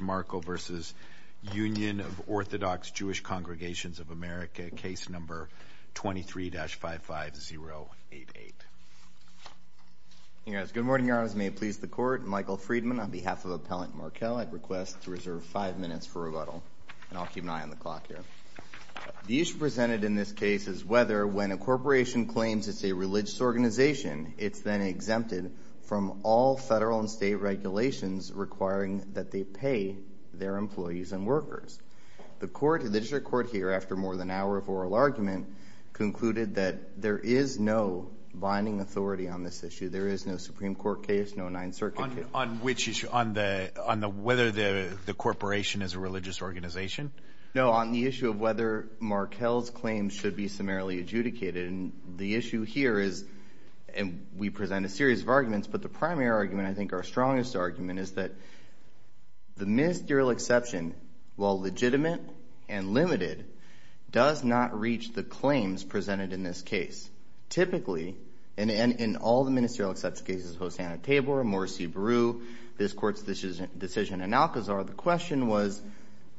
Markel v. Union of Orthodox Jewish Congregations of America, Case No. 23-55088. Good morning, Your Honors. May it please the Court? Michael Friedman on behalf of Appellant Markel, I'd request to reserve five minutes for rebuttal, and I'll keep an eye on the clock here. The issue presented in this case is whether, when a corporation claims it's a religious organization, it's then exempted from all federal and state regulations requiring that they pay their employees and workers. The District Court here, after more than an hour of oral argument, concluded that there is no binding authority on this issue. There is no Supreme Court case, no Ninth Circuit case. On which issue? On whether the corporation is a religious organization? No, on the issue of whether Markel's claims should be summarily adjudicated. The issue here is, and we present a series of arguments, but the primary argument, and I think our strongest argument, is that the ministerial exception, while legitimate and limited, does not reach the claims presented in this case. Typically, and in all the ministerial exception cases, Hosanna-Tabor, Morsi-Beru, this Court's decision in Alcazar, the question was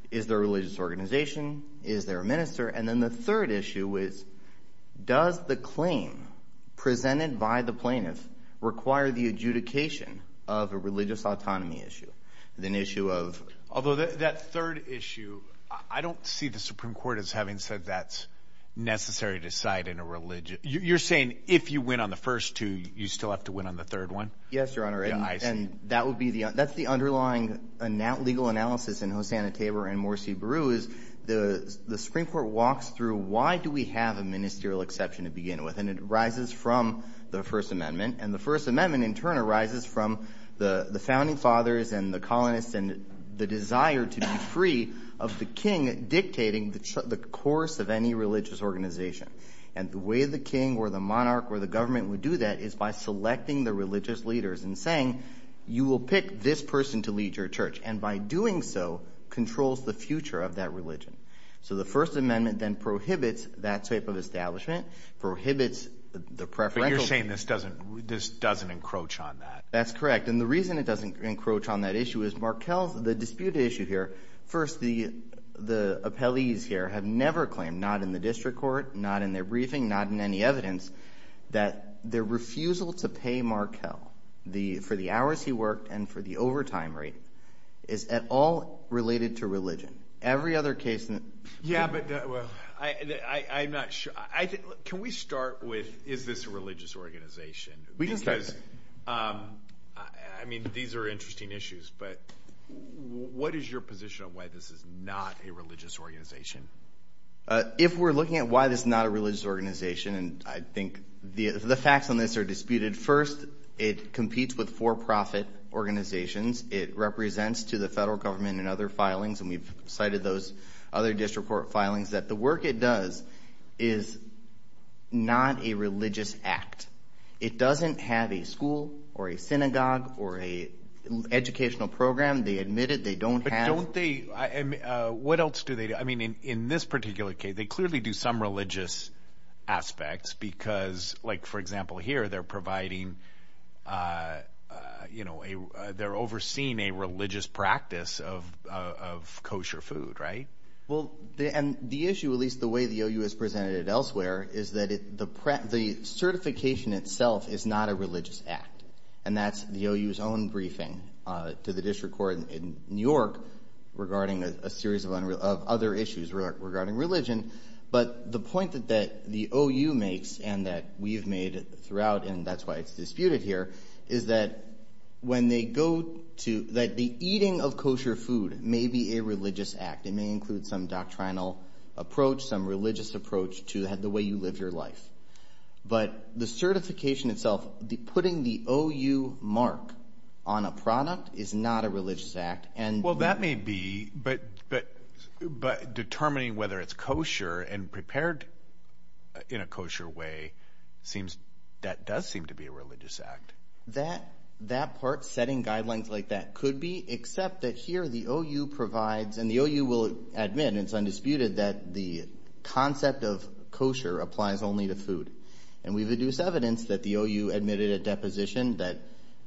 is there a religious organization? Is there a minister? And then the third issue is does the claim presented by the plaintiff require the adjudication of a religious autonomy issue? The issue of... Although that third issue, I don't see the Supreme Court as having said that's necessary to decide in a religious... You're saying if you win on the first two, you still have to win on the third one? Yes, Your Honor, and that's the underlying legal analysis in Hosanna-Tabor and Morsi-Beru is the Supreme Court walks through why do we have a ministerial exception to begin with? And it arises from the First Amendment, and the First Amendment in turn arises from the founding fathers and the colonists and the desire to be free of the king dictating the course of any religious organization. And the way the king or the monarch or the government would do that is by selecting the religious leaders and saying you will pick this person to lead your church, and by doing so controls the future of that religion. So the First Amendment then prohibits that type of establishment, prohibits the preferential... But you're saying this doesn't encroach on that. That's correct, and the reason it doesn't encroach on that issue is Markell... The disputed issue here, first the appellees here have never claimed, not in the district court, not in their briefing, not in any evidence, that their refusal to pay Markell for the bill related to religion. Every other case... Yeah, but I'm not sure. Can we start with is this a religious organization? I mean, these are interesting issues, but what is your position on why this is not a religious organization? If we're looking at why this is not a religious organization, and I think the facts on this are disputed, first it competes with for-profit organizations. It represents to the federal government and other filings, and we've cited those other district court filings, that the work it does is not a religious act. It doesn't have a school or a synagogue or an educational program. They admit it. They don't have... But don't they... What else do they do? I mean, in this particular case, they clearly do some religious aspects because, like for example here, they're providing... They're overseeing a religious practice of kosher food, right? Well, the issue, at least the way the OU has presented it elsewhere, is that the certification itself is not a religious act, and that's the OU's own briefing to the district court in New York regarding a series of other issues regarding religion, but the point that the OU makes, and that we've made throughout, and that's why it's disputed here, is that when they go to... That the eating of kosher food may be a religious act. It may include some doctrinal approach, some religious approach to the way you live your life, but the certification itself, putting the OU mark on a product is not a religious act, and... Well, that may be, but determining whether it's kosher and prepared in a kosher way, that does seem to be a religious act. That part, setting guidelines like that, could be, except that here the OU provides, and the OU will admit, and it's undisputed, that the concept of kosher applies only to food, and we've reduced evidence that the OU admitted at deposition that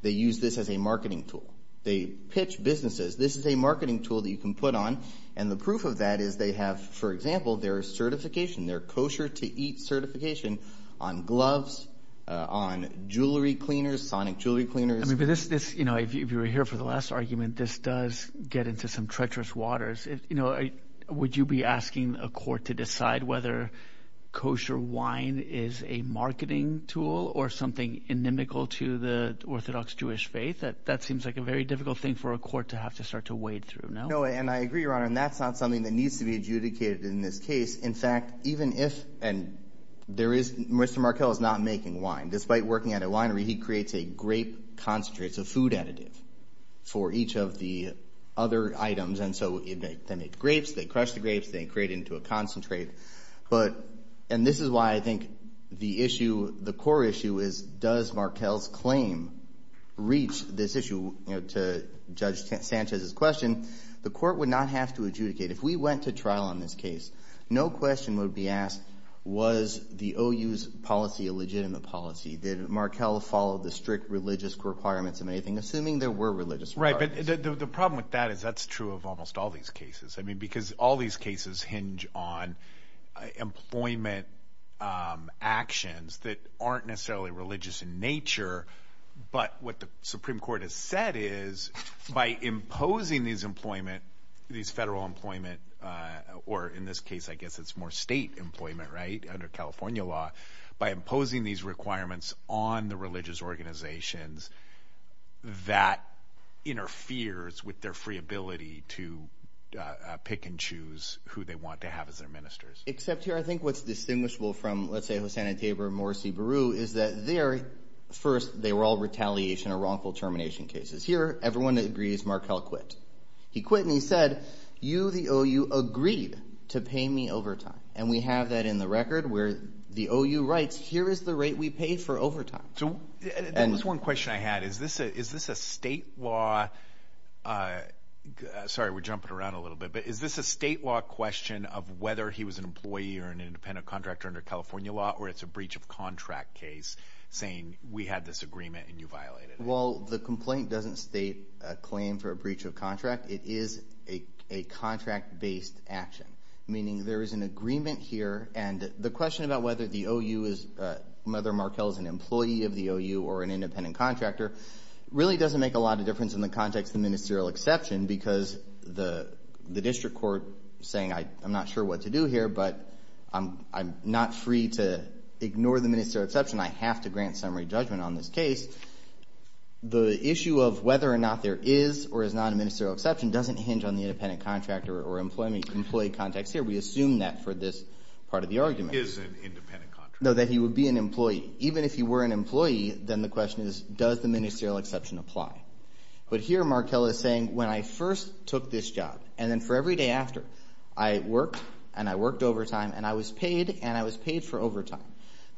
they use this as a marketing tool. They pitch businesses. This is a marketing tool that you can put on, and the proof of that is they have, for example, their certification, their kosher-to-eat certification on gloves, on jewelry cleaners, sonic jewelry cleaners... I mean, but this, you know, if you were here for the last argument, this does get into some treacherous waters. You know, would you be asking a court to decide whether kosher wine is a marketing tool or something inimical to the Orthodox Jewish faith? That seems like a very difficult thing for a court to have to start to wade through. No, and I agree, Your Honor, and that's not something that needs to be adjudicated in this case. In fact, even if, and there is, Mr. Markell is not making wine. Despite working at a winery, he creates a grape concentrate, it's a food additive for each of the other items, and so they make grapes, they crush the grapes, they create into a concentrate, but, and this is why I think the issue, the core issue is does Markell's claim reach this issue? You know, to Judge Sanchez's question, the court would not have to adjudicate. If we went to trial on this case, no question would be asked, was the OU's policy a legitimate policy? Did Markell follow the strict religious requirements of anything, assuming there were religious requirements? Right, but the problem with that is that's true of almost all these cases. I mean, because all these cases hinge on employment actions that aren't necessarily religious in nature, but what the Supreme Court has said is by imposing these employment, these federal employment, or in this case, I guess it's more state employment, right, under California law, by imposing these requirements on the OU, that interferes with their free ability to pick and choose who they want to have as their ministers. Except here, I think what's distinguishable from, let's say, Hosanna Tabor and Morrissey Beru is that they are, first, they were all retaliation or wrongful termination cases. Here, everyone agrees Markell quit. He quit and he said, you, the OU, agreed to pay me overtime, and we have that in the record where the OU writes, here is the rate we paid for overtime. There was one question I had. Is this a state law, sorry we're jumping around a little bit, but is this a state law question of whether he was an employee or an independent contractor under California law, or it's a breach of contract case saying, we had this agreement and you violated it? Well, the complaint doesn't state a claim for a breach of contract. It is a contract-based action, meaning there is an agreement here and the question about whether the OU is, whether Markell is an employee of the OU or an independent contractor, really doesn't make a lot of difference in the context of ministerial exception because the district court saying, I'm not sure what to do here, but I'm not free to ignore the ministerial exception. I have to grant summary judgment on this case. The issue of whether or not there is or is not a ministerial exception doesn't hinge on the independent contractor or employee context here. We assume that for this part of the argument. Is an independent contractor. No, that he would be an employee. Even if he were an employee, then the question is, does the ministerial exception apply? But here Markell is saying, when I first took this job and then for every day after, I worked and I worked overtime and I was paid and I was paid for overtime.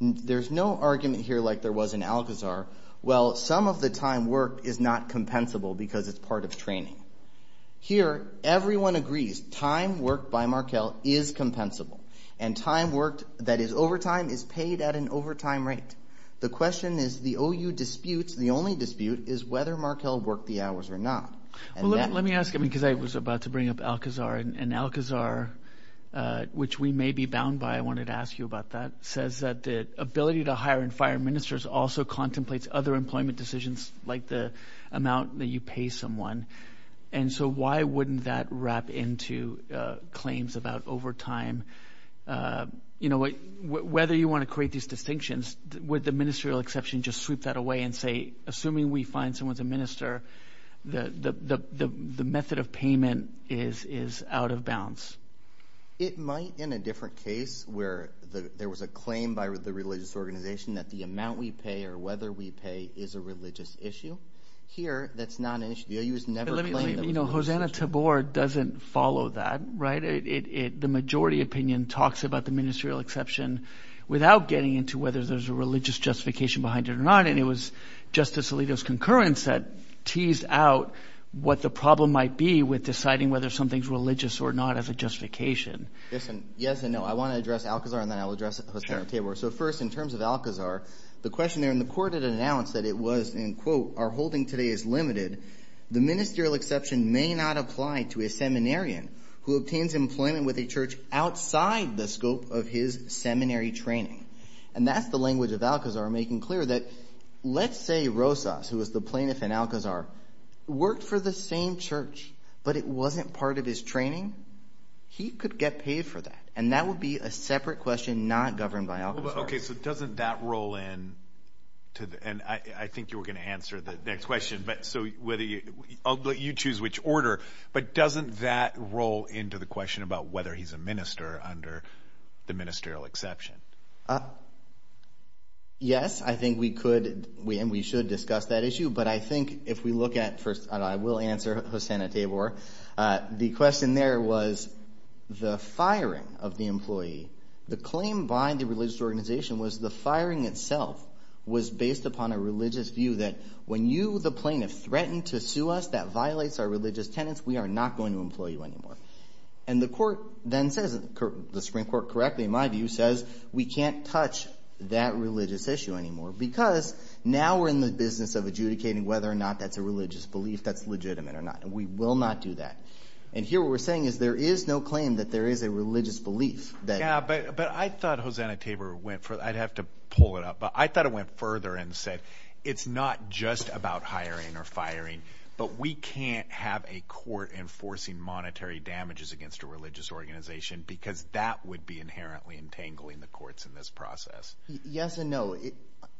There's no argument here like there was in Alcazar. Well, some of the time worked is not compensable because it's part of training. Here, everyone agrees, time worked by Markell is compensable and time worked that is overtime is paid at an overtime rate. The question is the OU disputes. The only dispute is whether Markell worked the hours or not. Let me ask him because I was about to bring up Alcazar and Alcazar, which we may be bound by, I wanted to ask you about that, says that the ability to hire and fire ministers also contemplates other employment decisions like the amount that you pay someone. And so why wouldn't that wrap into claims about overtime? You know, whether you want to create these distinctions with the ministerial exception, just sweep that away and say, assuming we find someone's a minister, the method of payment is out of bounds. It might in a different case where there was a claim by the religious organization that the amount we pay or whether we pay is a religious issue. Here, that's not an issue. The OU has never claimed that it's a religious issue. But let me, you know, Hosanna Tabor doesn't follow that, right? The majority opinion talks about the ministerial exception without getting into whether there's a religious justification behind it or not. And it was Justice Alito's concurrence that teased out what the problem might be with deciding whether something's religious or not as a justification. Yes and no. I want to address Alcazar and then I'll address Hosanna Tabor. So first, in terms of Alcazar, the question there in the court had announced that it was, and quote, our holding today is limited. The ministerial exception may not apply to a seminarian who obtains employment with a church outside the scope of his seminary training. And that's the language of Alcazar making clear that let's say Rosas, who was the plaintiff in Alcazar, worked for the same church, but it wasn't part of his training. He could get paid for that. And that would be a separate question not governed by Alcazar. Okay. So doesn't that roll in to the, and I think you were going to answer the next question, but so whether you, I'll let you choose which order, but doesn't that roll into the question about whether he's a minister under the ministerial exception? Yes, I think we could, and we should discuss that issue. But I think if we look at first, and I will answer Hosanna Tabor. The question there was the firing of the employee, the claim by the religious organization was the firing itself was based upon a religious view that when you, the plaintiff, threatened to sue us that violates our religious tenets, we are not going to employ you anymore. And the court then says, the Supreme Court correctly, my view says, we can't touch that religious issue anymore because now we're in the business of adjudicating whether or not that's a religious belief that's legitimate or not. We will not do that. And here what we're saying is there is no claim that there is a religious belief. Yeah, but, but I thought Hosanna Tabor went for, I'd have to pull it up, but I thought it went further and said, it's not just about hiring or firing, but we can't have a court enforcing monetary damages against a religious organization because that would be inherently entangling the courts in this process. Yes and no. It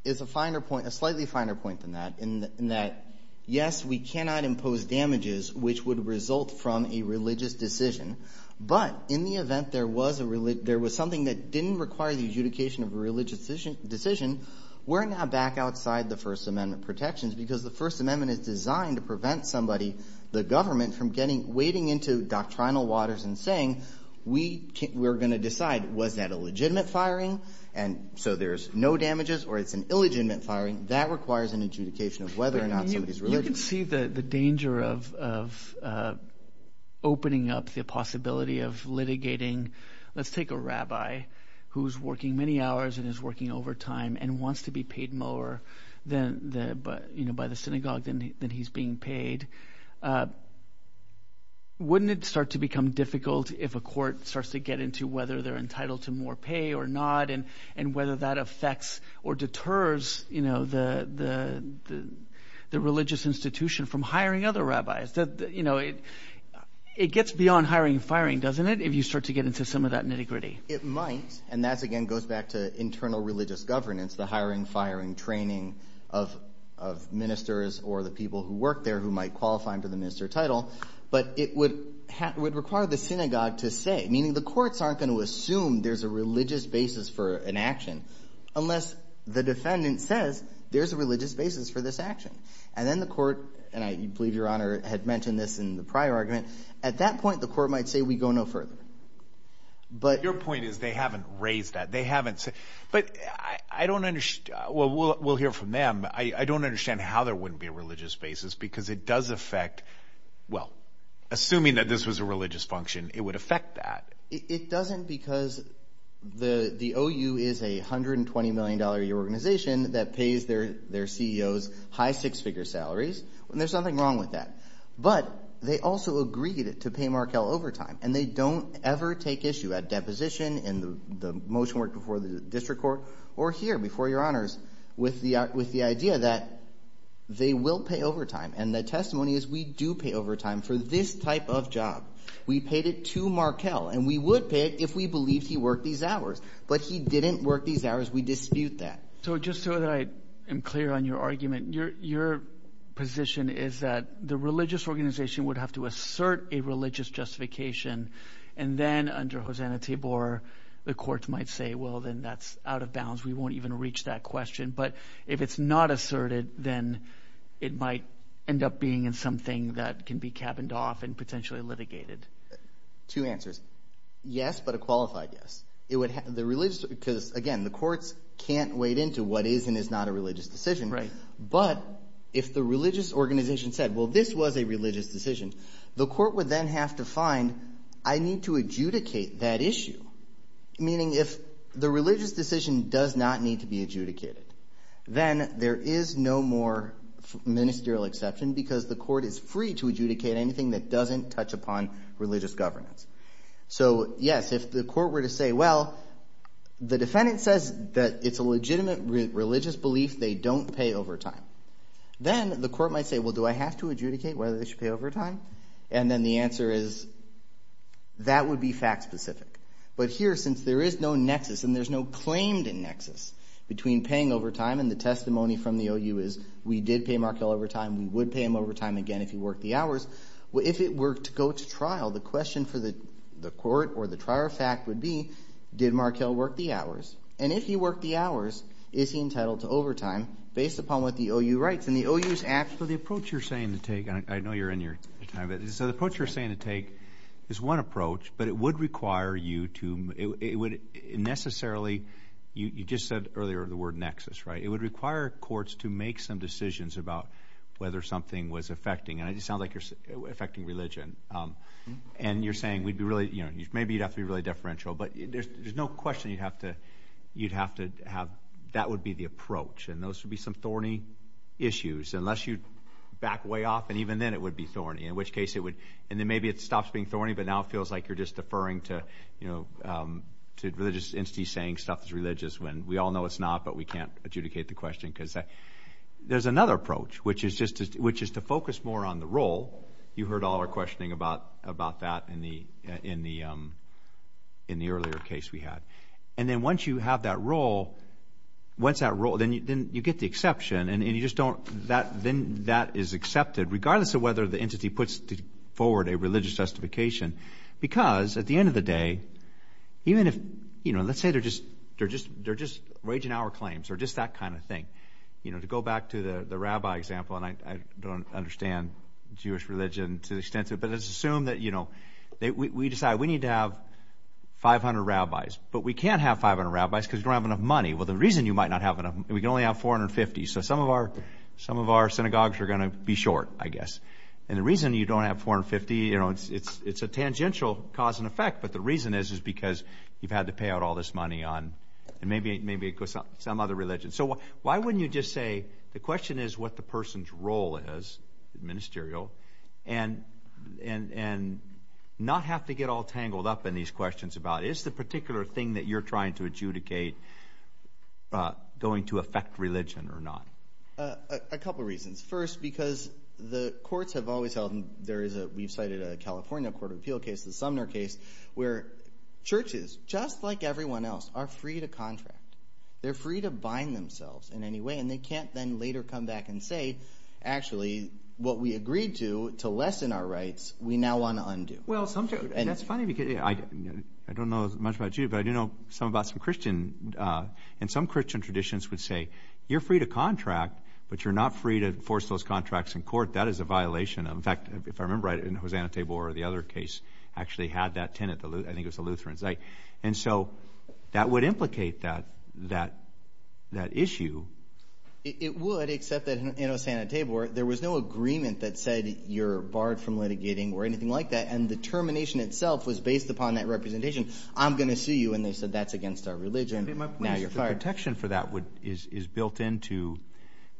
is a finer point, a slightly finer point than that, in that, yes, we cannot impose damages, which would result from a religious decision. But in the event there was a, there was something that didn't require the adjudication of a religious decision, we're now back outside the First Amendment protections because the First Amendment is designed to prevent somebody, the government, from getting, wading into doctrinal waters and saying, we can't, we're going to decide, was that a legitimate firing? And so there's no damages or it's an illegitimate firing that requires an adjudication of whether or not somebody's religious. The danger of opening up the possibility of litigating, let's take a rabbi who's working many hours and is working overtime and wants to be paid more than the, you know, by the synagogue than he's being paid. Wouldn't it start to become difficult if a court starts to get into whether they're entitled to more pay or not and whether that affects or deters, you know, the religious institution from hiring other rabbis that, you know, it, it gets beyond hiring and firing, doesn't it? If you start to get into some of that nitty-gritty. It might. And that's, again, goes back to internal religious governance, the hiring, firing training of, of ministers or the people who work there who might qualify him to the minister title. But it would have, would require the synagogue to say, meaning the courts aren't going to assume there's a religious basis for an action unless the defendant says there's a religious basis for this action. And then the court, and I believe your honor had mentioned this in the prior argument, at that point, the court might say, we go no further. But your point is they haven't raised that. They haven't said, but I don't understand. Well, we'll, we'll hear from them. I don't understand how there wouldn't be a religious basis because it does affect, well, assuming that this was a religious function, it would affect that. It doesn't because the, the OU is a $120 million a year organization that pays their, their CEOs high six figure salaries. And there's nothing wrong with that. But they also agreed to pay Markell overtime and they don't ever take issue at deposition in the, the motion work before the district court or here before your honors with the, with the idea that they will pay overtime. And the testimony is we do pay overtime for this type of job. We paid it to Markell and we would pay it if we believed he worked these hours, but he didn't work these hours. We dispute that. So just so that I am clear on your argument, your, your position is that the religious organization would have to assert a religious justification. And then under Hosanna Tibor, the courts might say, well, then that's out of bounds. We won't even reach that question, but if it's not asserted, then it might end up being in something that can be cabined off and potentially litigated. Two answers. Yes, but a qualified, yes. It would have the religious, because again, the courts can't wade into what is and is not a religious decision, right? But if the religious organization said, well, this was a religious decision, the court would then have to find, I need to adjudicate that issue. Meaning if the religious decision does not need to be adjudicated, then there is no more ministerial exception because the court is free to adjudicate anything that doesn't touch upon religious governance. So yes, if the court were to say, well, the defendant says that it's a legitimate religious belief, they don't pay overtime. Then the court might say, well, do I have to adjudicate whether they should pay overtime? And then the answer is, that would be fact specific. But here, since there is no nexus and there's no claimed nexus between paying overtime and the testimony from the OU is we did pay Markell overtime, we would pay him overtime again if he worked the hours. Well, if it were to go to trial, the question for the court or the trial of fact would be, did Markell work the hours? And if he worked the hours, is he entitled to overtime based upon what the OU writes? And the OU's actually- So the approach you're saying to take, and I know you're in your time, so the approach you're saying to take is one approach, but it would require you to, it would necessarily, you just said earlier the word nexus, right? It would require courts to make some decisions about whether something was affecting, and it sounds like you're affecting religion. And you're saying we'd be really, you know, maybe you'd have to be really deferential, but there's no question you'd have to, you'd have to have, that would be the approach. And those would be some thorny issues, unless you back way off, and even then it would be thorny, in which case it would, and then maybe it stops being thorny, but now it feels like you're just deferring to, you know, to religious entities saying stuff is religious when we all know it's not, but we can't adjudicate the question, because there's another approach, which is just, which is to focus more on the role. You heard all our questioning about that in the earlier case we had. And then once you have that role, once that role, then you get the exception, and you just don't, then that is accepted, regardless of whether the entity puts forward a religious justification, because at the end of the day, even if, you know, let's say they're just, they're just waging our claims, or just that kind of thing. You know, to go back to the the rabbi example, and I don't understand Jewish religion to the extent of, but let's assume that, you know, they, we decide we need to have 500 rabbis, but we can't have 500 rabbis because we don't have enough money. Well, the reason you might not have enough, we can only have 450, so some of our, some of our synagogues are going to be short, I guess. And the reason you don't have 450, you know, it's, it's, it's a tangential cause and effect, but the reason is, is because you've had to pay out all this money on, and maybe, maybe it goes to some other religion. So why wouldn't you just say, the question is what the person's role is, ministerial, and, and, and not have to get all tangled up in these questions about, is the particular thing that you're trying to adjudicate going to affect religion or not? A couple reasons. First, because the courts have always held, there is a, we've cited a California Court of Appeal case, the Sumner case, where churches, just like everyone else, are free to contract. They're free to bind themselves in any way, and they can't then later come back and say, actually, what we agreed to, to lessen our rights, we now want to undo. Well, sometimes, and that's funny because I, I don't know as much about you, but I do know some about some Christian, and some Christian traditions would say, you're free to contract, but you're not free to force those contracts in court. That is a Lutheran. And so that would implicate that, that, that issue. It would, except that in Osana-Tabor, there was no agreement that said you're barred from litigating or anything like that, and the termination itself was based upon that representation. I'm going to sue you, and they said, that's against our religion, now you're fired. The protection for that would, is, is built into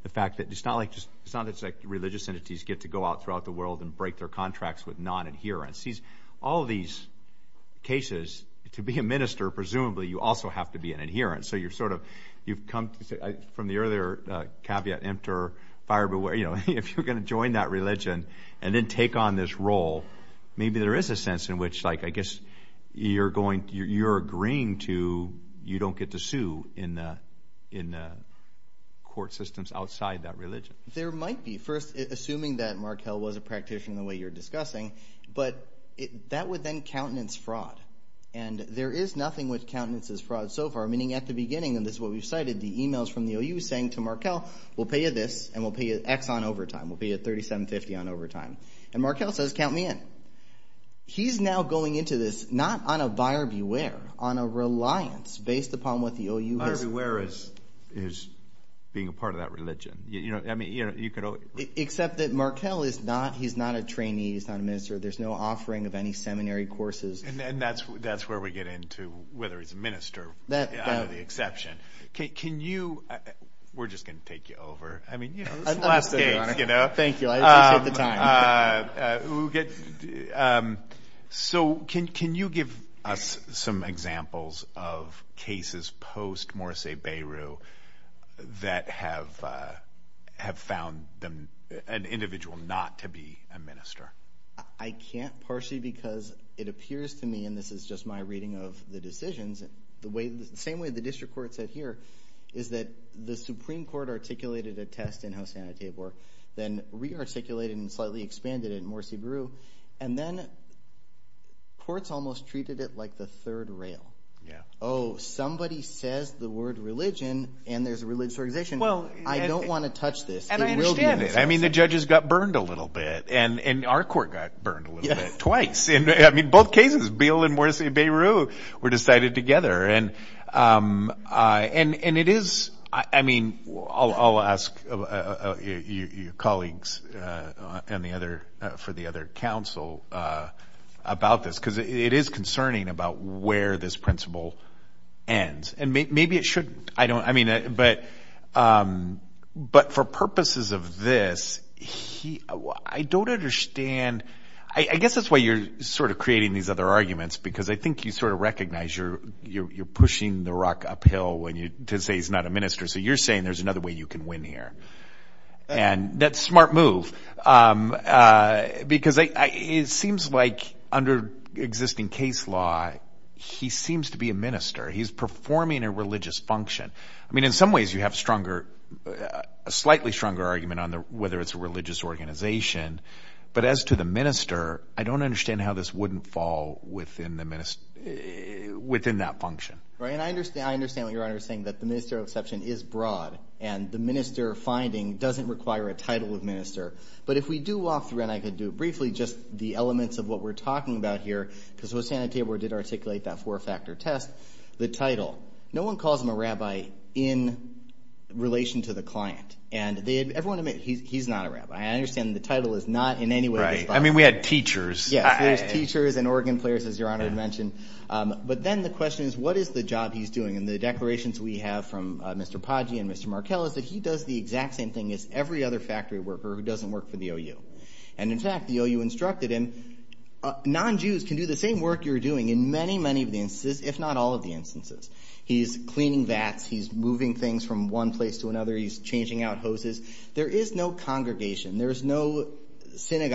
the fact that it's not like, it's not just like religious entities get to go out throughout the world and break their contracts with non-adherents. These, all these cases, to be a minister, presumably, you also have to be an adherent. So you're sort of, you've come, from the earlier caveat, enter, fire, beware, you know, if you're going to join that religion and then take on this role, maybe there is a sense in which, like, I guess, you're going, you're agreeing to, you don't get to sue in the, in the court systems outside that religion. There might be. First, assuming that you're a practitioner, the way you're discussing, but it, that would then countenance fraud, and there is nothing which countenances fraud so far, meaning at the beginning, and this is what we've cited, the emails from the OU saying to Markell, we'll pay you this, and we'll pay you X on overtime, we'll pay you 37.50 on overtime, and Markell says, count me in. He's now going into this, not on a buyer beware, on a reliance based upon what the OU has. Buyer beware is, is being a part of that religion, you know, I mean, you know, you could only. Except that Markell is not, he's not a trainee, he's not a minister, there's no offering of any seminary courses. And that's, that's where we get into whether he's a minister, that, under the exception. Can you, we're just going to take you over, I mean, you know, it's the last case, you know. Thank you, I appreciate the time. We'll get, so can, can you give us some examples of cases post Morsi-Beru that have, have found them, an individual not to be a minister? I can't partially because it appears to me, and this is just my reading of the decisions, the way, the same way the district court said here, is that the Supreme Court articulated a test in Hosanna-Tabor, then re-articulated and slightly expanded in Morsi-Beru, and then courts almost treated it like the third rail. Yeah. Oh, somebody says the word religion, and there's a religious organization. Well, I don't want to touch this. And I understand it. I mean, the judges got burned a little bit, and, and our court got burned a little bit, twice. I mean, both cases, Beale and Morsi-Beru were decided together, and and, and it is, I mean, I'll, I'll ask your colleagues and the other, for the other council about this, because it is concerning about where this principle ends, and maybe it shouldn't. I don't, I mean, but, but for purposes of this, he, I don't understand. I, I guess that's why you're sort of creating these other arguments, because I think you sort of recognize you're, you're, you're pushing the rock uphill when you, to say he's not a minister. So you're saying there's another way you can win here, and that's smart move, because I, it seems like under existing case law, he seems to be a minister. He's performing a religious function. I mean, in some ways, you have stronger, a slightly stronger argument on the, whether it's a religious organization, but as to the minister, I don't understand how this wouldn't fall within the minister, within that function. Right, and I understand, I and the minister finding doesn't require a title of minister, but if we do walk through, and I could do it briefly, just the elements of what we're talking about here, because Hosanna Tabor did articulate that four-factor test, the title, no one calls him a rabbi in relation to the client, and they, everyone admits he's, he's not a rabbi. I understand the title is not in any way. Right, I mean, we had teachers. Yes, there's teachers and organ players, as your honor had mentioned, but then the question is, what is the job he's doing, and the declarations we have from Mr. Poggi and Mr. Markell is that he does the exact same thing as every other factory worker who doesn't work for the OU, and in fact, the OU instructed him, non-Jews can do the same work you're doing in many, many of the instances, if not all of the instances. He's cleaning vats. He's moving things from one place to another. He's changing out hoses. There is no congregation. There's no every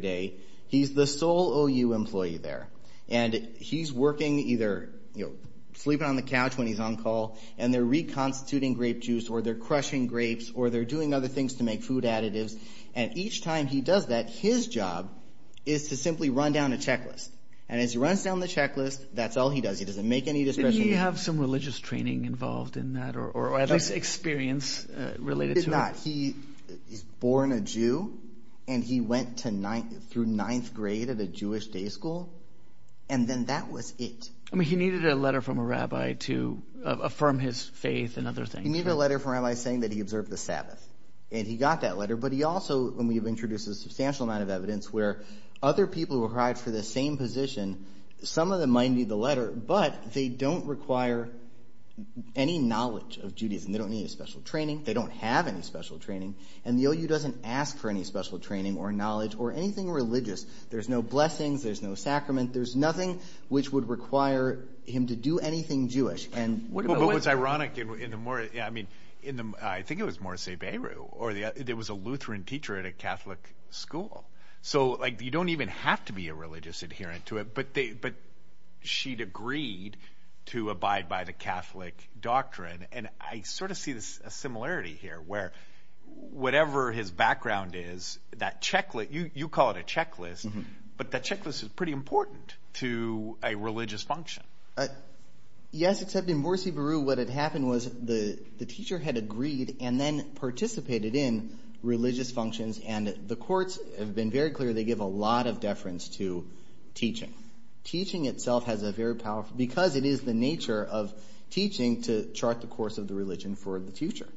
day. He's the sole OU employee there, and he's working either, you know, sleeping on the couch when he's on call, and they're reconstituting grape juice, or they're crushing grapes, or they're doing other things to make food additives, and each time he does that, his job is to simply run down a checklist, and as he runs down the checklist, that's all he does. He doesn't make any discretion. Did he have some religious training involved in that, or at least experience related to it? He did not. He was born a Jew, and he went through ninth grade at a Jewish day school, and then that was it. I mean, he needed a letter from a rabbi to affirm his faith and other things. He needed a letter from a rabbi saying that he observed the Sabbath, and he got that letter, but he also, and we've introduced a substantial amount of evidence where other people who applied for the same position, some of them might need the letter, but they don't require any knowledge of Judaism. They don't need a special training. They don't have any special training, and the OU doesn't ask for any special training, or knowledge, or anything religious. There's no blessings. There's no sacrament. There's nothing which would require him to do anything Jewish. But what's ironic in the more, I mean, in the, I think it was Morsi Beirut, or there was a Lutheran teacher at a Catholic school, so like you don't even have to be a religious adherent to it, but they, but she'd agreed to abide by the Catholic doctrine, and I sort of see this, a similarity here, where whatever his background is, that checklist, you call it a checklist, but that checklist is pretty important to a religious function. Yes, except in Morsi Beirut, what had happened was the teacher had agreed and then participated in a lot of deference to teaching. Teaching itself has a very powerful, because it is the nature of teaching to chart the course of the religion for the future,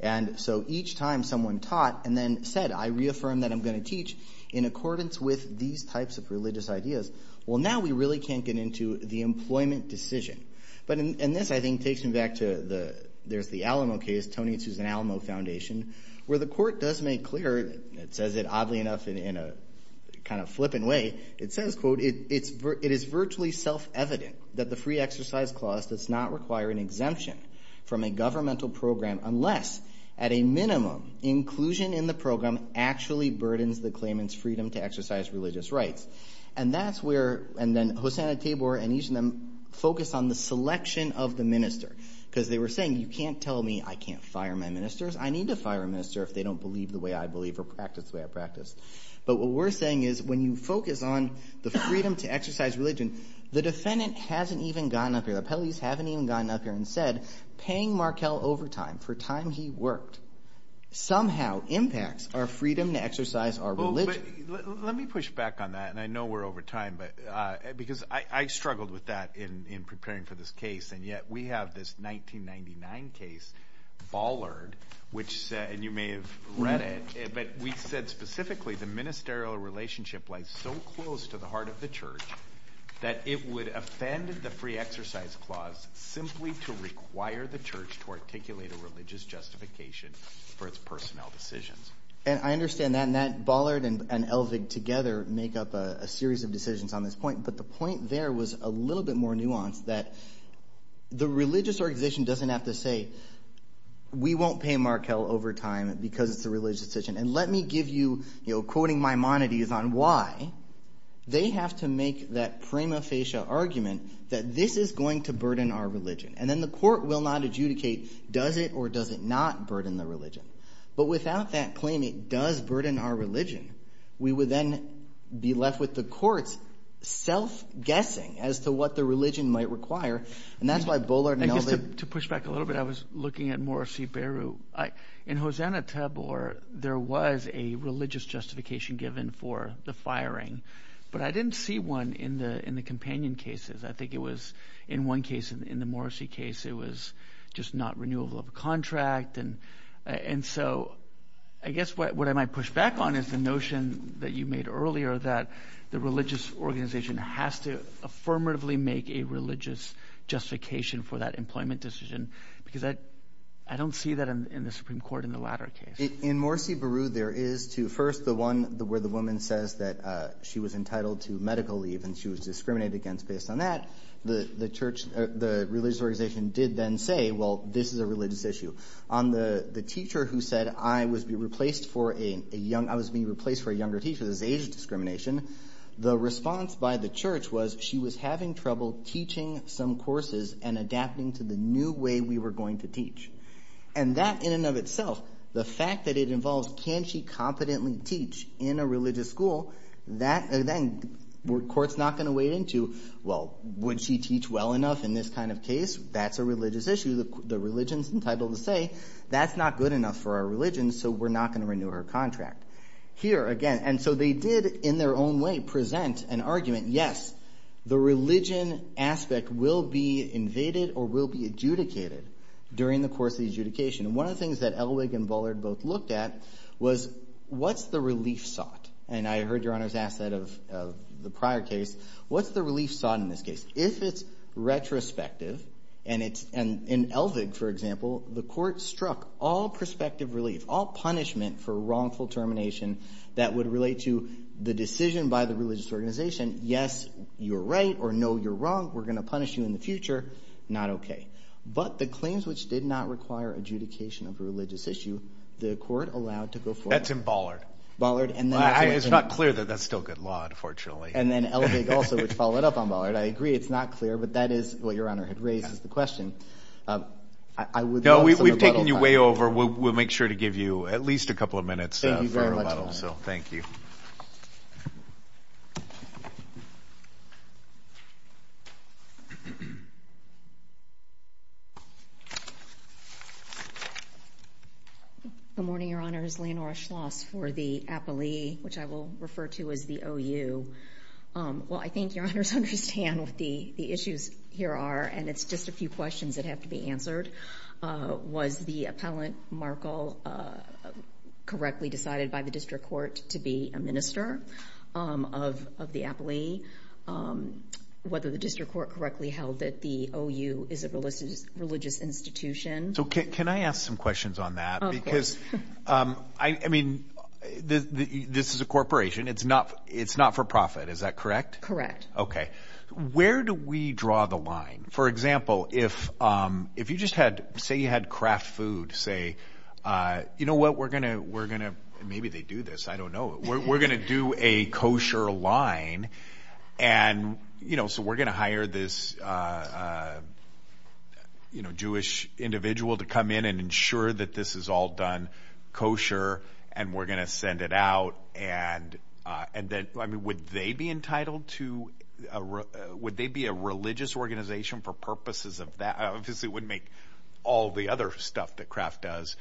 and so each time someone taught and then said, I reaffirm that I'm going to teach in accordance with these types of religious ideas, well now we really can't get into the employment decision. But in this, I think, takes me back to the, there's the Alamo case, Tony and Susan Alamo Foundation, where the court does make clear, it says it oddly enough in a kind of flippant way, it says, quote, it is virtually self-evident that the free exercise clause does not require an exemption from a governmental program unless at a minimum, inclusion in the program actually burdens the claimant's freedom to exercise religious rights. And that's where, and then Hosanna Tabor and each of them focus on the selection of the minister, because they were saying, you can't tell me I can't fire my ministers, I need to fire a minister if they don't believe the way I believe or practice the way I practice. But what we're saying is, when you focus on the freedom to exercise religion, the defendant hasn't even gotten up here, the appellees haven't even gotten up here and said, paying Markell overtime for time he worked somehow impacts our freedom to exercise our religion. Let me push back on that, and I know we're over time, but because I struggled with that in preparing for this case, and yet we have this 1999 case, Ballard, which, and you may have read it, but we said specifically the ministerial relationship lies so close to the heart of the church that it would offend the free exercise clause simply to require the church to articulate a religious justification for its personnel decisions. And I understand that, and Ballard and Elvig together make up a series of the religious organization doesn't have to say, we won't pay Markell overtime because it's a religious decision, and let me give you, you know, quoting Maimonides on why, they have to make that prima facie argument that this is going to burden our religion, and then the court will not adjudicate does it or does it not burden the religion. But without that claim it does burden our religion, we would then be left with the court self-guessing as to what the religion might require, and that's why Ballard and Elvig... I guess to push back a little bit, I was looking at Morrissey-Beru. In Hosanna-Tabor there was a religious justification given for the firing, but I didn't see one in the companion cases. I think it was in one case, in the Morrissey case, it was just not renewable of a contract, and so I guess what I might push back on is the made earlier that the religious organization has to affirmatively make a religious justification for that employment decision, because I don't see that in the Supreme Court in the latter case. In Morrissey-Beru there is too. First the one where the woman says that she was entitled to medical leave and she was discriminated against based on that. The church, the religious organization did then say, well this is a religious issue. On the teacher who said I was being replaced for a younger teacher, this is age discrimination, the response by the church was she was having trouble teaching some courses and adapting to the new way we were going to teach, and that in and of itself, the fact that it involves can she competently teach in a religious school, then the court's not going to weigh into, well would she teach well enough in this kind of case? That's a religious issue. The religion's entitled to say that's not good enough for our contract. Here again, and so they did in their own way present an argument, yes, the religion aspect will be invaded or will be adjudicated during the course of the adjudication. One of the things that Elvig and Bullard both looked at was what's the relief sought? And I heard your honors ask that of the prior case. What's the relief sought in this case? If it's retrospective and it's, and in Elvig for example, the court struck all prospective relief, all punishment for wrongful termination that would relate to the decision by the religious organization, yes, you're right or no, you're wrong, we're going to punish you in the future, not okay. But the claims which did not require adjudication of a religious issue, the court allowed to go forward. That's in Bullard. Bullard and then. It's not clear that that's still good law unfortunately. And then Elvig also would follow it up on Bullard. I agree it's not clear, but that is what your honor had the question. No, we've taken you way over. We'll make sure to give you at least a couple of minutes. Good morning, your honors. Leonora Schloss for the appellee, which I will refer to as the OU. Well, I think your honors understand what the issues here are. And it's just a few questions that have to be answered. Was the appellant Markle correctly decided by the district court to be a minister of the appellee? Whether the district court correctly held that the OU is a religious institution? So can I ask some questions on that? Because I mean, this is a corporation. It's not for profit. Is that correct? Correct. Okay. Where do we draw the line? For example, if you just had, say you had craft food, say, you know what, we're going to, we're going to, maybe they do this, I don't know. We're going to do a kosher line. And, you know, so we're going to hire this, you know, Jewish individual to come in and ensure that this is all done and we're going to send it out. And then, I mean, would they be entitled to, would they be a religious organization for purposes of that? I obviously wouldn't make all the other stuff that craft does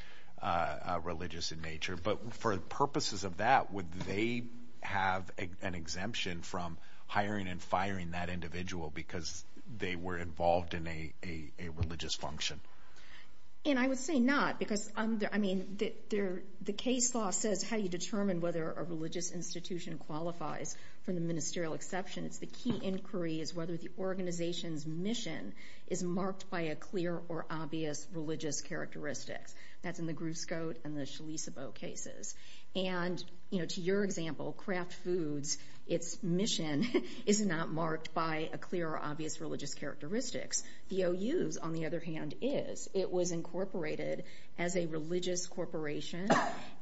religious in nature, but for purposes of that, would they have an exemption from hiring and firing that individual because they were involved in a religious function? And I would say not because, I mean, the case law says how you determine whether a religious institution qualifies from the ministerial exception. It's the key inquiry is whether the organization's mission is marked by a clear or obvious religious characteristics. That's in the Grouse Goat and the Chalisa Bow cases. And, you know, to your example, craft foods, its mission is not marked by a clear or obvious religious characteristics. VOUs, on the other hand, is. It was incorporated as a religious corporation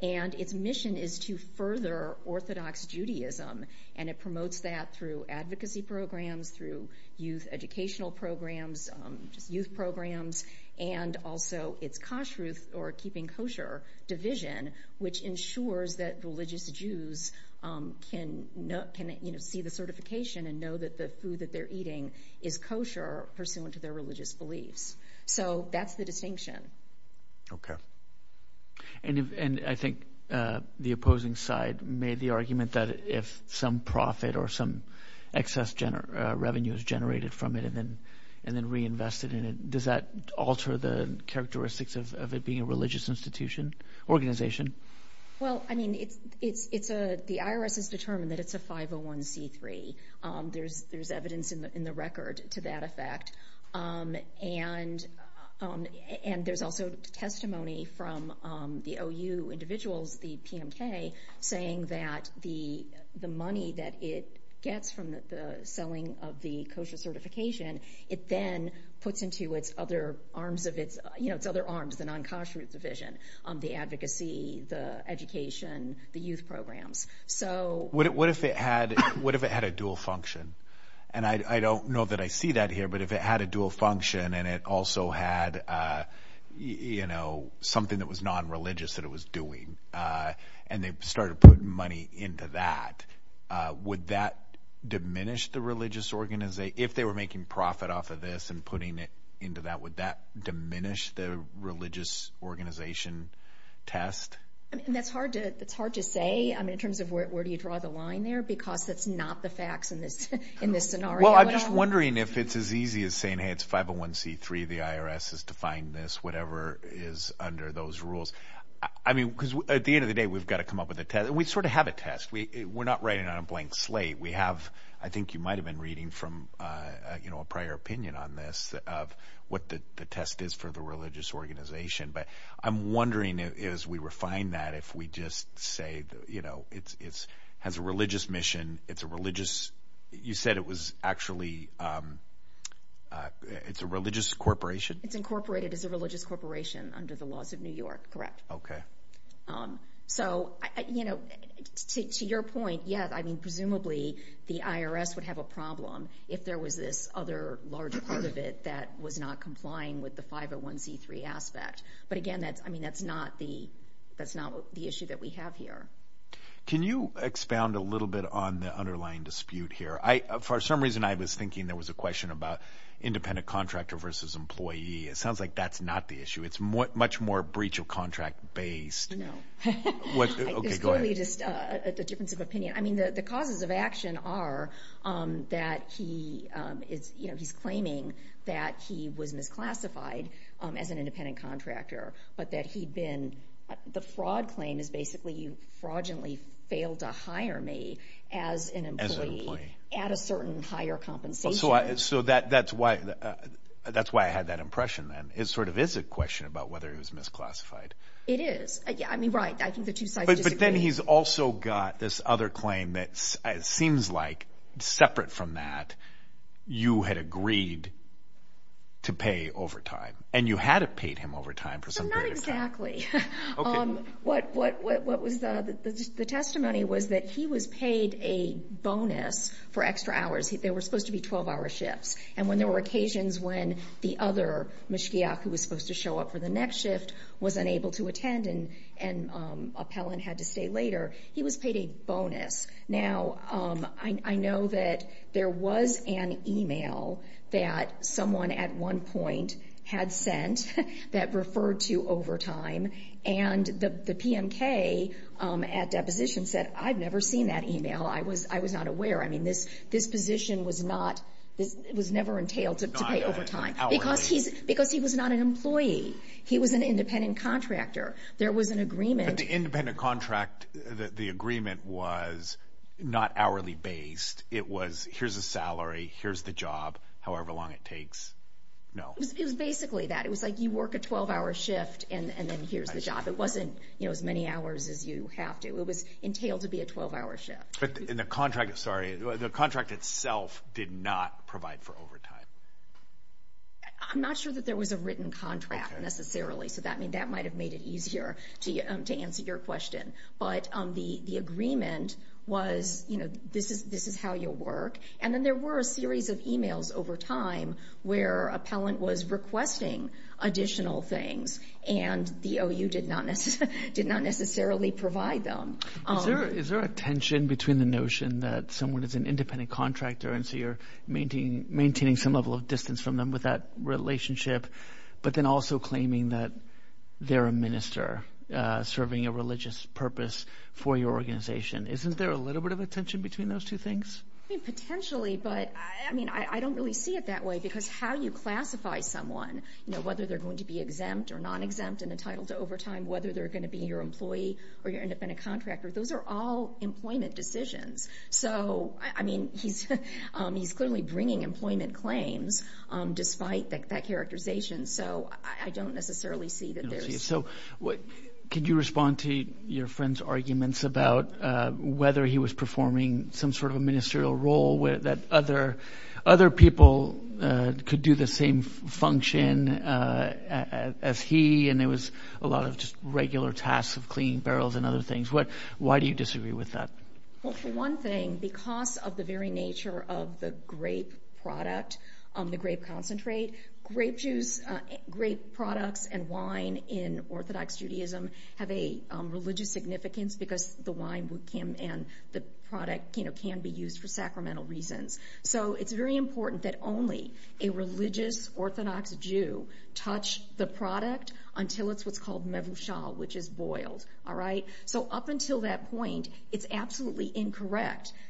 and its mission is to further orthodox Judaism. And it promotes that through advocacy programs, through youth educational programs, just youth programs, and also its kashrut or keeping kosher division, which ensures that religious Jews can, you know, see the certification and know that the food that they're eating is kosher pursuant to their religious beliefs. So that's the distinction. Okay. And I think the opposing side made the argument that if some profit or some excess revenue is generated from it and then reinvested in it, does that alter the characteristics of it being a religious institution, organization? Well, I mean, it's a, the IRS has determined that it's a 501c3. There's evidence in the record to that effect. And there's also testimony from the OU individuals, the PMK, saying that the money that it gets from the selling of the kosher certification, it then puts into its other arms of its, you know, its other arms, the non-kashrut division, the advocacy, the education, the youth programs. So what if it had a dual function? And I don't know that I see that here, but if it had a dual function and it also had, you know, something that was non-religious that it was doing, and they started putting money into that, would that diminish the religious organization? If they were making profit off of this and putting into that, would that diminish the religious organization test? I mean, that's hard to, it's hard to say, I mean, in terms of where, where do you draw the line there? Because that's not the facts in this, in this scenario. Well, I'm just wondering if it's as easy as saying, hey, it's 501c3, the IRS has defined this, whatever is under those rules. I mean, because at the end of the day, we've got to come up with a test. We sort of have a test. We, we're not writing on a blank slate. We have, I think you might've been reading from, you know, a prior opinion on this, of what the test is for the religious organization. But I'm wondering as we refine that, if we just say, you know, it's, it's has a religious mission, it's a religious, you said it was actually, it's a religious corporation? It's incorporated as a religious corporation under the laws of New York. Correct. Okay. So, you know, to, to your point, yeah, I mean, presumably the IRS would have a problem if there was this other large part of it that was not complying with the 501c3 aspect. But again, that's, I mean, that's not the, that's not the issue that we have here. Can you expound a little bit on the underlying dispute here? I, for some reason, I was thinking there was a question about independent contractor versus employee. It sounds like that's not the issue. It's more, much more breach of contract based. No. Okay, go ahead. The difference of opinion. I mean, the, the causes of action are that he is, you know, he's claiming that he was misclassified as an independent contractor, but that he'd been, the fraud claim is basically you fraudulently failed to hire me as an employee at a certain higher compensation. So that, that's why, that's why I had that impression then. It sort of is a question about whether it was misclassified. It is. I mean, right. I think the two sides disagree. But then he's also got this other claim that seems like separate from that, you had agreed to pay overtime and you had paid him overtime for some period of time. Not exactly. Okay. What, what, what, what was the, the testimony was that he was paid a bonus for extra hours. There were supposed to be 12 hour shifts. And when there were occasions when the other mishkiach who was supposed to show up for the next shift was unable to attend and, um, appellant had to stay later, he was paid a bonus. Now, um, I, I know that there was an email that someone at one point had sent that referred to overtime and the, the PMK, um, at deposition said, I've never seen that email. I was, I was not aware. I mean, this, this position was not, this was never entailed to pay overtime because he's, because he was not an employee. He was an independent contract that the agreement was not hourly based. It was, here's a salary, here's the job, however long it takes. No, it was basically that it was like you work a 12 hour shift and then here's the job. It wasn't, you know, as many hours as you have to, it was entailed to be a 12 hour shift in the contract. Sorry. The contract itself did not provide for overtime. I'm not sure that there was a written contract necessarily. So that mean that might've made it to answer your question. But, um, the, the agreement was, you know, this is, this is how you'll work. And then there were a series of emails over time where appellant was requesting additional things and the OU did not necessarily, did not necessarily provide them. Is there a tension between the notion that someone is an independent contractor and so you're maintaining, maintaining some level of distance from them with that relationship, but then also claiming that they're a minister serving a religious purpose for your organization. Isn't there a little bit of a tension between those two things? I mean, potentially, but I mean, I don't really see it that way because how you classify someone, you know, whether they're going to be exempt or non-exempt and entitled to overtime, whether they're going to be your employee or your independent contractor, those are all employment decisions. So I mean, he's, he's clearly bringing employment claims, um, despite that, that characterization. So I don't necessarily see that there is. So what, could you respond to your friend's arguments about, uh, whether he was performing some sort of a ministerial role where that other, other people, uh, could do the same function, uh, as he, and there was a lot of just regular tasks of cleaning barrels and other things. What, why do you disagree with that? Well, for one thing, because of the very nature of the grape product, um, the grape concentrate, grape juice, uh, grape products and wine in Orthodox Judaism have a, um, religious significance because the wine would come and the product, you know, can be used for sacramental reasons. So it's very important that only a religious Orthodox Jew touch the product until it's what's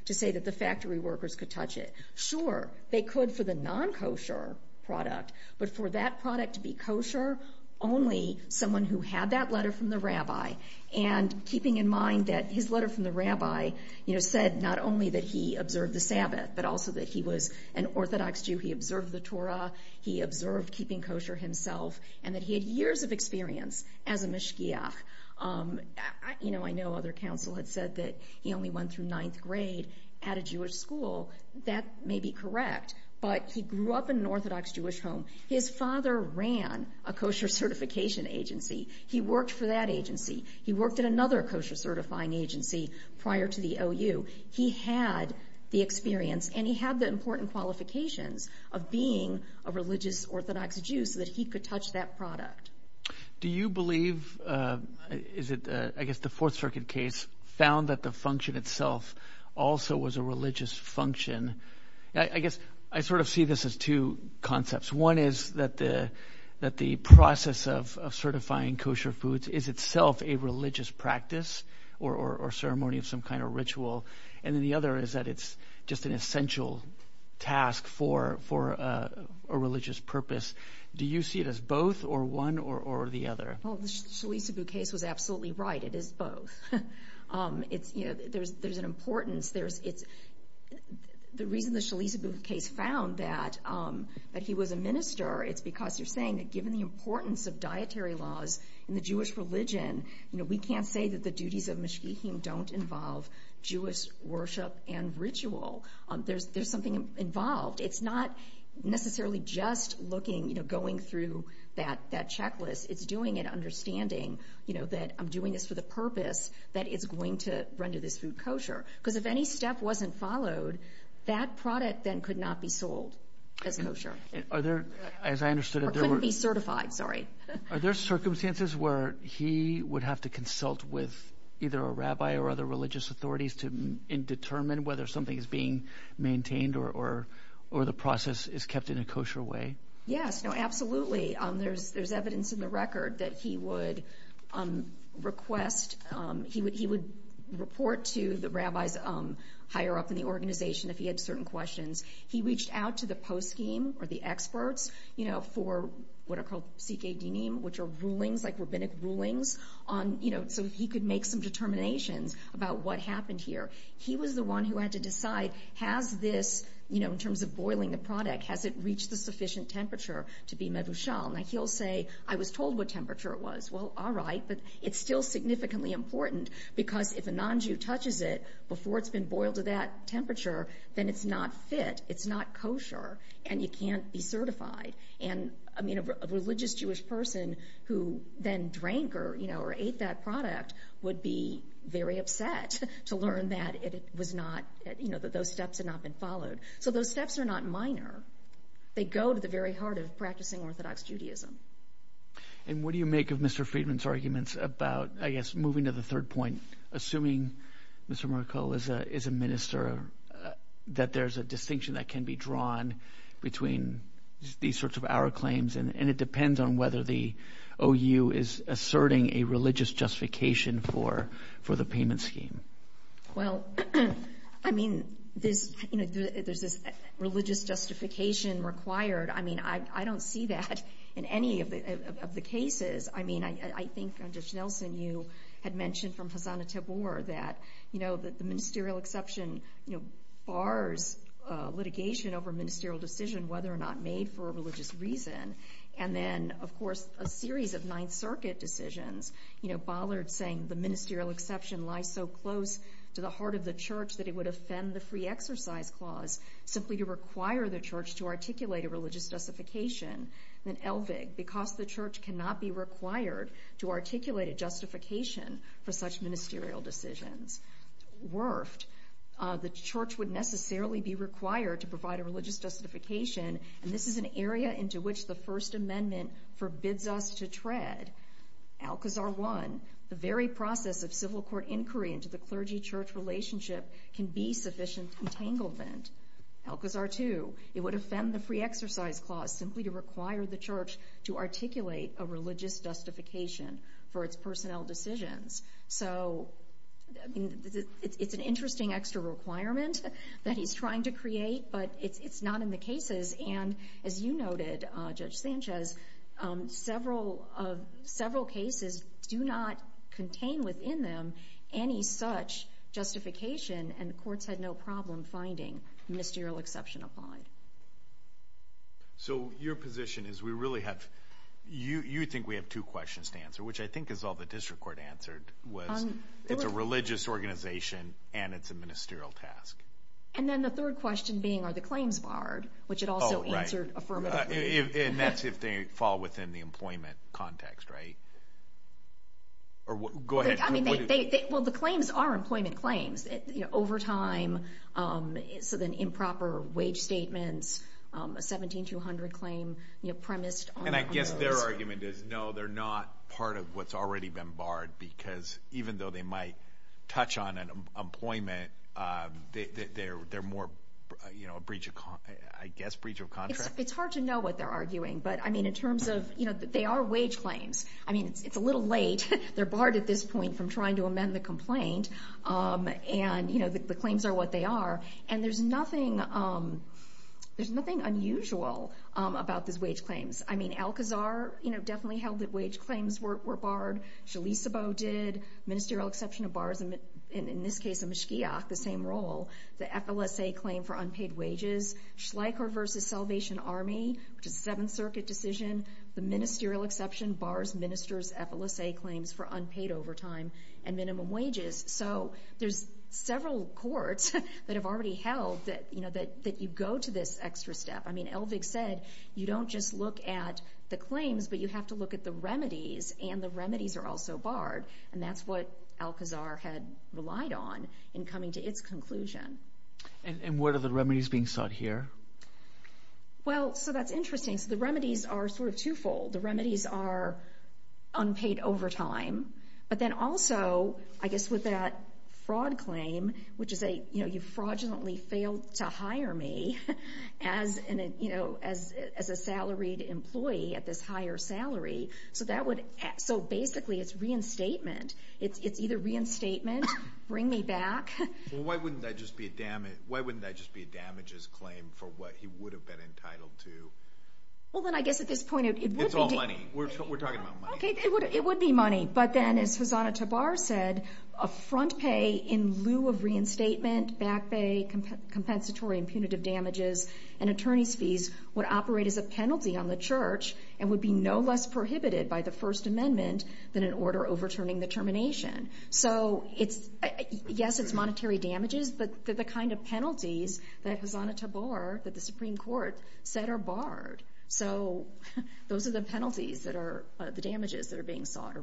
to say that the factory workers could touch it. Sure, they could for the non-kosher product, but for that product to be kosher, only someone who had that letter from the rabbi and keeping in mind that his letter from the rabbi, you know, said not only that he observed the Sabbath, but also that he was an Orthodox Jew. He observed the Torah, he observed keeping kosher himself, and that he had years of experience as a mishkiach. Um, I, you know, I know other had said that he only went through ninth grade at a Jewish school. That may be correct, but he grew up in an Orthodox Jewish home. His father ran a kosher certification agency. He worked for that agency. He worked at another kosher certifying agency prior to the OU. He had the experience and he had the important qualifications of being a religious Orthodox Jew so that he could touch that product. Do you believe, uh, is it, uh, I guess the Fourth Circuit case found that the function itself also was a religious function. I guess I sort of see this as two concepts. One is that the, that the process of certifying kosher foods is itself a religious practice or, or ceremony of some kind of ritual. And then the other is that it's just an essential task for, for, uh, a religious purpose. Do you see it as both or one or, or the other? Well, the Shalisabu case was absolutely right. It is both. Um, it's, you know, there's, there's an importance. There's, it's the reason the Shalisabu case found that, um, that he was a minister. It's because you're saying that given the importance of dietary laws in the Jewish religion, you know, we can't say that the duties of mishkiachim don't involve Jewish worship and ritual. Um, there's, there's something involved. It's not necessarily just looking, you know, going through that, that checklist. It's doing it understanding, you know, that I'm doing this for the purpose that it's going to render this food kosher. Because if any step wasn't followed, that product then could not be sold as kosher. Are there, as I understood, it couldn't be certified, sorry. Are there circumstances where he would have to consult with either a rabbi or other religious authorities to determine whether something is being maintained or the process is kept in a kosher way? Yes, no, absolutely. Um, there's, there's evidence in the record that he would, um, request, um, he would, he would report to the rabbis, um, higher up in the organization if he had certain questions. He reached out to the post scheme or the experts, you know, for what are called sikhedinim, which are rulings, like rabbinic rulings on, you know, so he could make some determinations about what happened here. He was the one who had to decide, has this, you know, in terms of boiling the product, has it reached the sufficient temperature to be mevushal? Now he'll say, I was told what temperature it was. Well, all right, but it's still significantly important because if a non-Jew touches it before it's been boiled to that temperature, then it's not fit, it's not kosher, and you can't be certified. And, I mean, a religious Jewish person who then drank or, you know, or ate that product would be very upset to learn that it was not, you know, that those steps had not been followed. So those steps are not minor. They go to the very heart of practicing Orthodox Judaism. And what do you make of Mr. Friedman's arguments about, I guess, moving to the third point, assuming Mr. Merkel is a, is a minister, that there's a distinction that can be drawn between these sorts of our claims, and, and it depends on whether the OU is asserting a religious justification for, for the payment scheme. Well, I mean, there's, you know, there's this religious justification required. I mean, I, I don't see that in any of the, of the cases. I mean, I, I think Judge Nelson, you had mentioned from Hassan Tabor that, you know, that the ministerial exception, you know, bars litigation over ministerial decision, whether or not made for a religious reason. And then, of course, a series of Ninth Circuit decisions, you know, bollard saying the ministerial exception lies so close to the heart of the church that it would offend the Free Exercise Clause simply to require the church to articulate a religious justification. Then Elvig, because the church cannot be required to articulate a justification for such ministerial decisions. Werft, the church would necessarily be required to provide a religious justification, and this is an area into which the First Amendment forbids us to tread. Alcazar 1, the very process of civil court inquiry into the clergy-church relationship can be sufficient entanglement. Alcazar 2, it would offend the Free Exercise Clause simply to require the church to articulate a religious justification for its personnel decisions. So, I mean, it's an interesting extra requirement that he's trying to create, but it's, it's not in the cases. And as you noted, Judge Sanchez, several, several cases do not contain within them any such justification, and the courts had no problem finding ministerial exception applied. So, your position is we really have, you, you think we have two questions to answer, which I think is all the district court answered, was it's a religious organization and it's a ministerial task. And then the third question being, are the claims barred, which it also answered affirmatively. And that's if they fall within the employment context, right? Or, go ahead. I mean, they, they, well, the claims are employment claims, you know, overtime, so then improper wage statements, a 17-200 claim, you know, premised on- And I guess their argument is, no, they're not part of what's already been barred because even though they might touch on an employment, they're, they're, they're more, you know, a breach of, I guess, breach of contract. It's hard to know what they're arguing, but I mean, in terms of, you know, they are wage claims. I mean, it's, it's a little late. They're barred at this point from trying to amend the complaint. And, you know, the claims are what they are. And there's nothing, there's nothing unusual about these wage claims. I mean, Alcazar, you know, definitely held that wage claims were, were barred. Shalisabo did. Ministerial exception of bars, and in this case, Amishkiach, the same role. The FLSA claim for unpaid wages. Schleicher versus Salvation Army, which is a Seventh Circuit decision. The ministerial exception bars ministers' FLSA claims for unpaid overtime and minimum wages. So there's several courts that have already held that, you know, that, that you go to this extra step. I mean, Elvig said, you don't just look at the claims, but you have to look at the remedies, and the remedies are also barred. And that's what Alcazar had relied on in coming to its conclusion. And, and what are the remedies being sought here? Well, so that's interesting. So the remedies are sort of twofold. The remedies are unpaid overtime. But then also, I guess, with that fraud claim, which is a, you know, you fraudulently failed to hire me as an, you know, as, as a salaried employee at this higher salary. So that would, so basically, it's reinstatement. It's, it's either reinstatement, bring me back. Well, why wouldn't that just be a damage, why wouldn't that just be a damages claim for what he would have been entitled to? Well, then I guess at this point, it would be. It's all money. We're, we're talking about money. Okay, it would, it would be money. But then, as Hosanna Tabar said, a front pay in lieu of reinstatement, back pay, compensatory and punitive damages, and attorney's fees would operate as a penalty on the church, and would be no less prohibited by the First Amendment than an order overturning the termination. So it's, yes, it's monetary damages, but the kind of penalties that Hosanna Tabar, that the Supreme Court said are the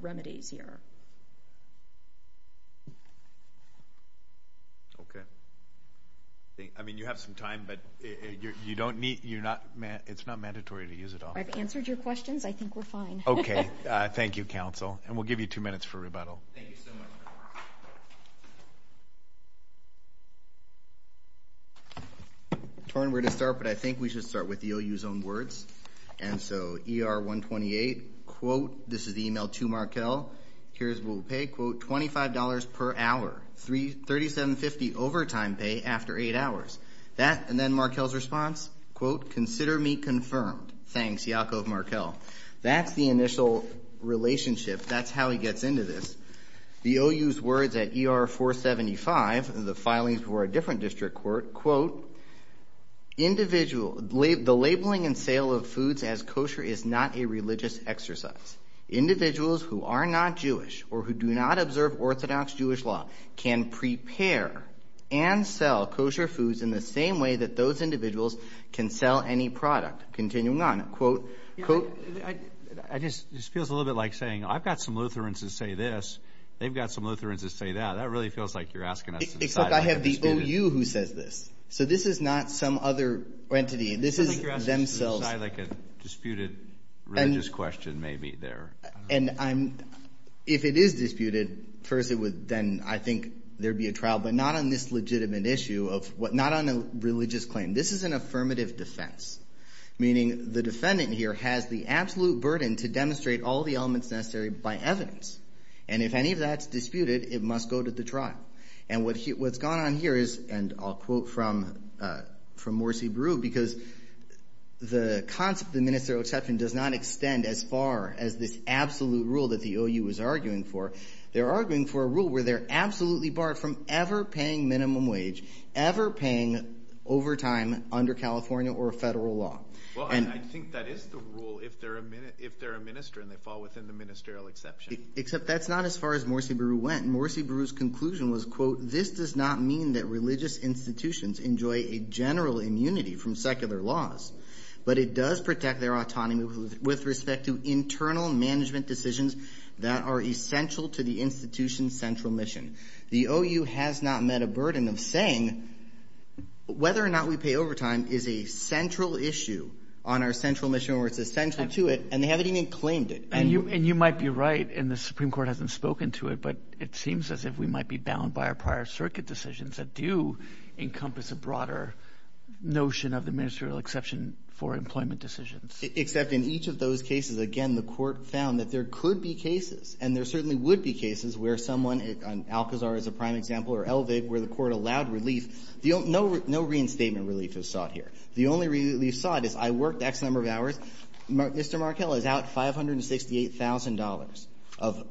penalties here. Okay. I mean, you have some time, but you don't need, you're not, it's not mandatory to use it all. I've answered your questions. I think we're fine. Okay. Thank you, counsel. And we'll give you two minutes for rebuttal. Thank you so much. Torn, where to start, but I think we should start with the OU's own words. And so ER-128, quote, this is the email to Markel, here's what we'll pay, quote, $25 per hour, $37.50 overtime pay after eight hours. That, and then Markel's response, quote, consider me confirmed. Thanks, Yaakov Markel. That's the initial relationship. That's how he gets into this. The OU's words at ER-475, the filings were a different district court, quote, individual, the labeling and sale of foods as kosher is not a religious exercise. Individuals who are not Jewish or who do not observe Orthodox Jewish law can prepare and sell kosher foods in the same way that those individuals can sell any product. Continuing on, quote, I just, this feels a little bit like saying, I've got some Lutherans to say this. They've got some Lutherans to say that. That really feels like you're asking us to decide. I have the OU who says this. So this is not some other entity. This is themselves. I think you're asking us to decide like a disputed religious question maybe there. And I'm, if it is disputed, first it would, then I think there'd be a trial, but not on this legitimate issue of what, not on a religious claim. This is an affirmative defense. Meaning the defendant here has the absolute burden to demonstrate all the elements necessary by evidence. And if any of that's disputed, it must go to the trial. And what's gone on here is, and I'll quote from Morsi Breu, because the concept of the ministerial exception does not extend as far as this absolute rule that the OU is arguing for. They're arguing for a rule where they're absolutely barred from ever paying minimum wage, ever paying overtime under California or federal law. Well, I think that is the rule if they're a minister and they fall within the exception. Except that's not as far as Morsi Breu went. Morsi Breu's conclusion was, quote, this does not mean that religious institutions enjoy a general immunity from secular laws, but it does protect their autonomy with respect to internal management decisions that are essential to the institution's central mission. The OU has not met a burden of saying whether or not we pay overtime is a central issue on our central mission or it's essential to it, and they haven't even claimed it. And you might be right, and the Supreme Court hasn't spoken to it, but it seems as if we might be bound by our prior circuit decisions that do encompass a broader notion of the ministerial exception for employment decisions. Except in each of those cases, again, the court found that there could be cases, and there certainly would be cases, where someone, Alcazar is a prime example, or Elvig, where the court allowed relief. No reinstatement relief is sought. The only relief sought is, I worked X number of hours. Mr. Markell is out $568,000 of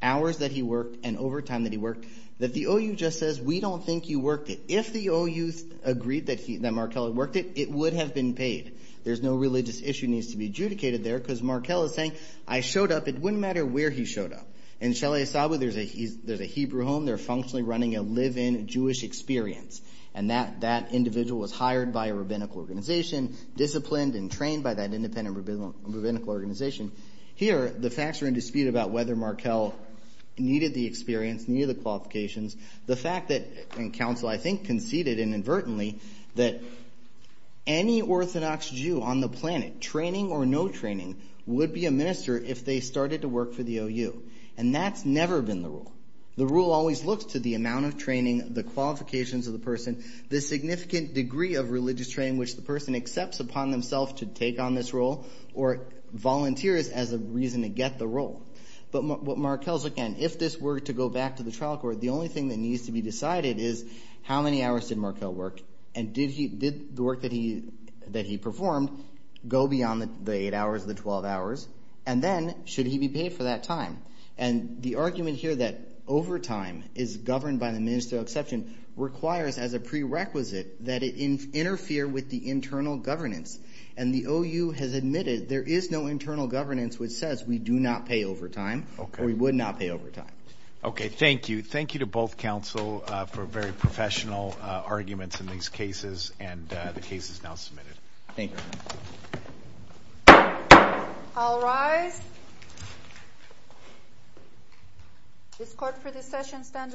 hours that he worked and overtime that he worked, that the OU just says, we don't think you worked it. If the OU agreed that Markell had worked it, it would have been paid. There's no religious issue that needs to be adjudicated there, because Markell is saying, I showed up, it wouldn't matter where he showed up. In Shele Asaba, there's a Hebrew home, they're functionally running a live-in Jewish experience, and that individual was hired by a rabbinical organization, disciplined and trained by that independent rabbinical organization. Here, the facts are in dispute about whether Markell needed the experience, needed the qualifications. The fact that, and counsel, I think, conceded inadvertently, that any Orthodox Jew on the planet, training or no training, would be a minister if they started to work for the OU, and that's never been the rule. The rule always looks to the amount of training, the qualifications of the person, the significant degree of religious training which the person accepts upon themselves to take on this role, or volunteers as a reason to get the role. But what Markell's looking at, if this were to go back to the trial court, the only thing that needs to be decided is, how many hours did Markell work, and did the work that he performed go beyond the eight hours, the 12 hours? And then, should he be paid for that time? And the argument here that overtime is governed by the ministerial exception requires, as a prerequisite, that it interfere with the internal governance. And the OU has admitted there is no internal governance which says, we do not pay overtime, or we would not pay overtime. Okay, thank you. Thank you to both counsel for very professional arguments in these cases, and the case is now submitted. Thank you. I'll rise. This court for this session stands adjourned.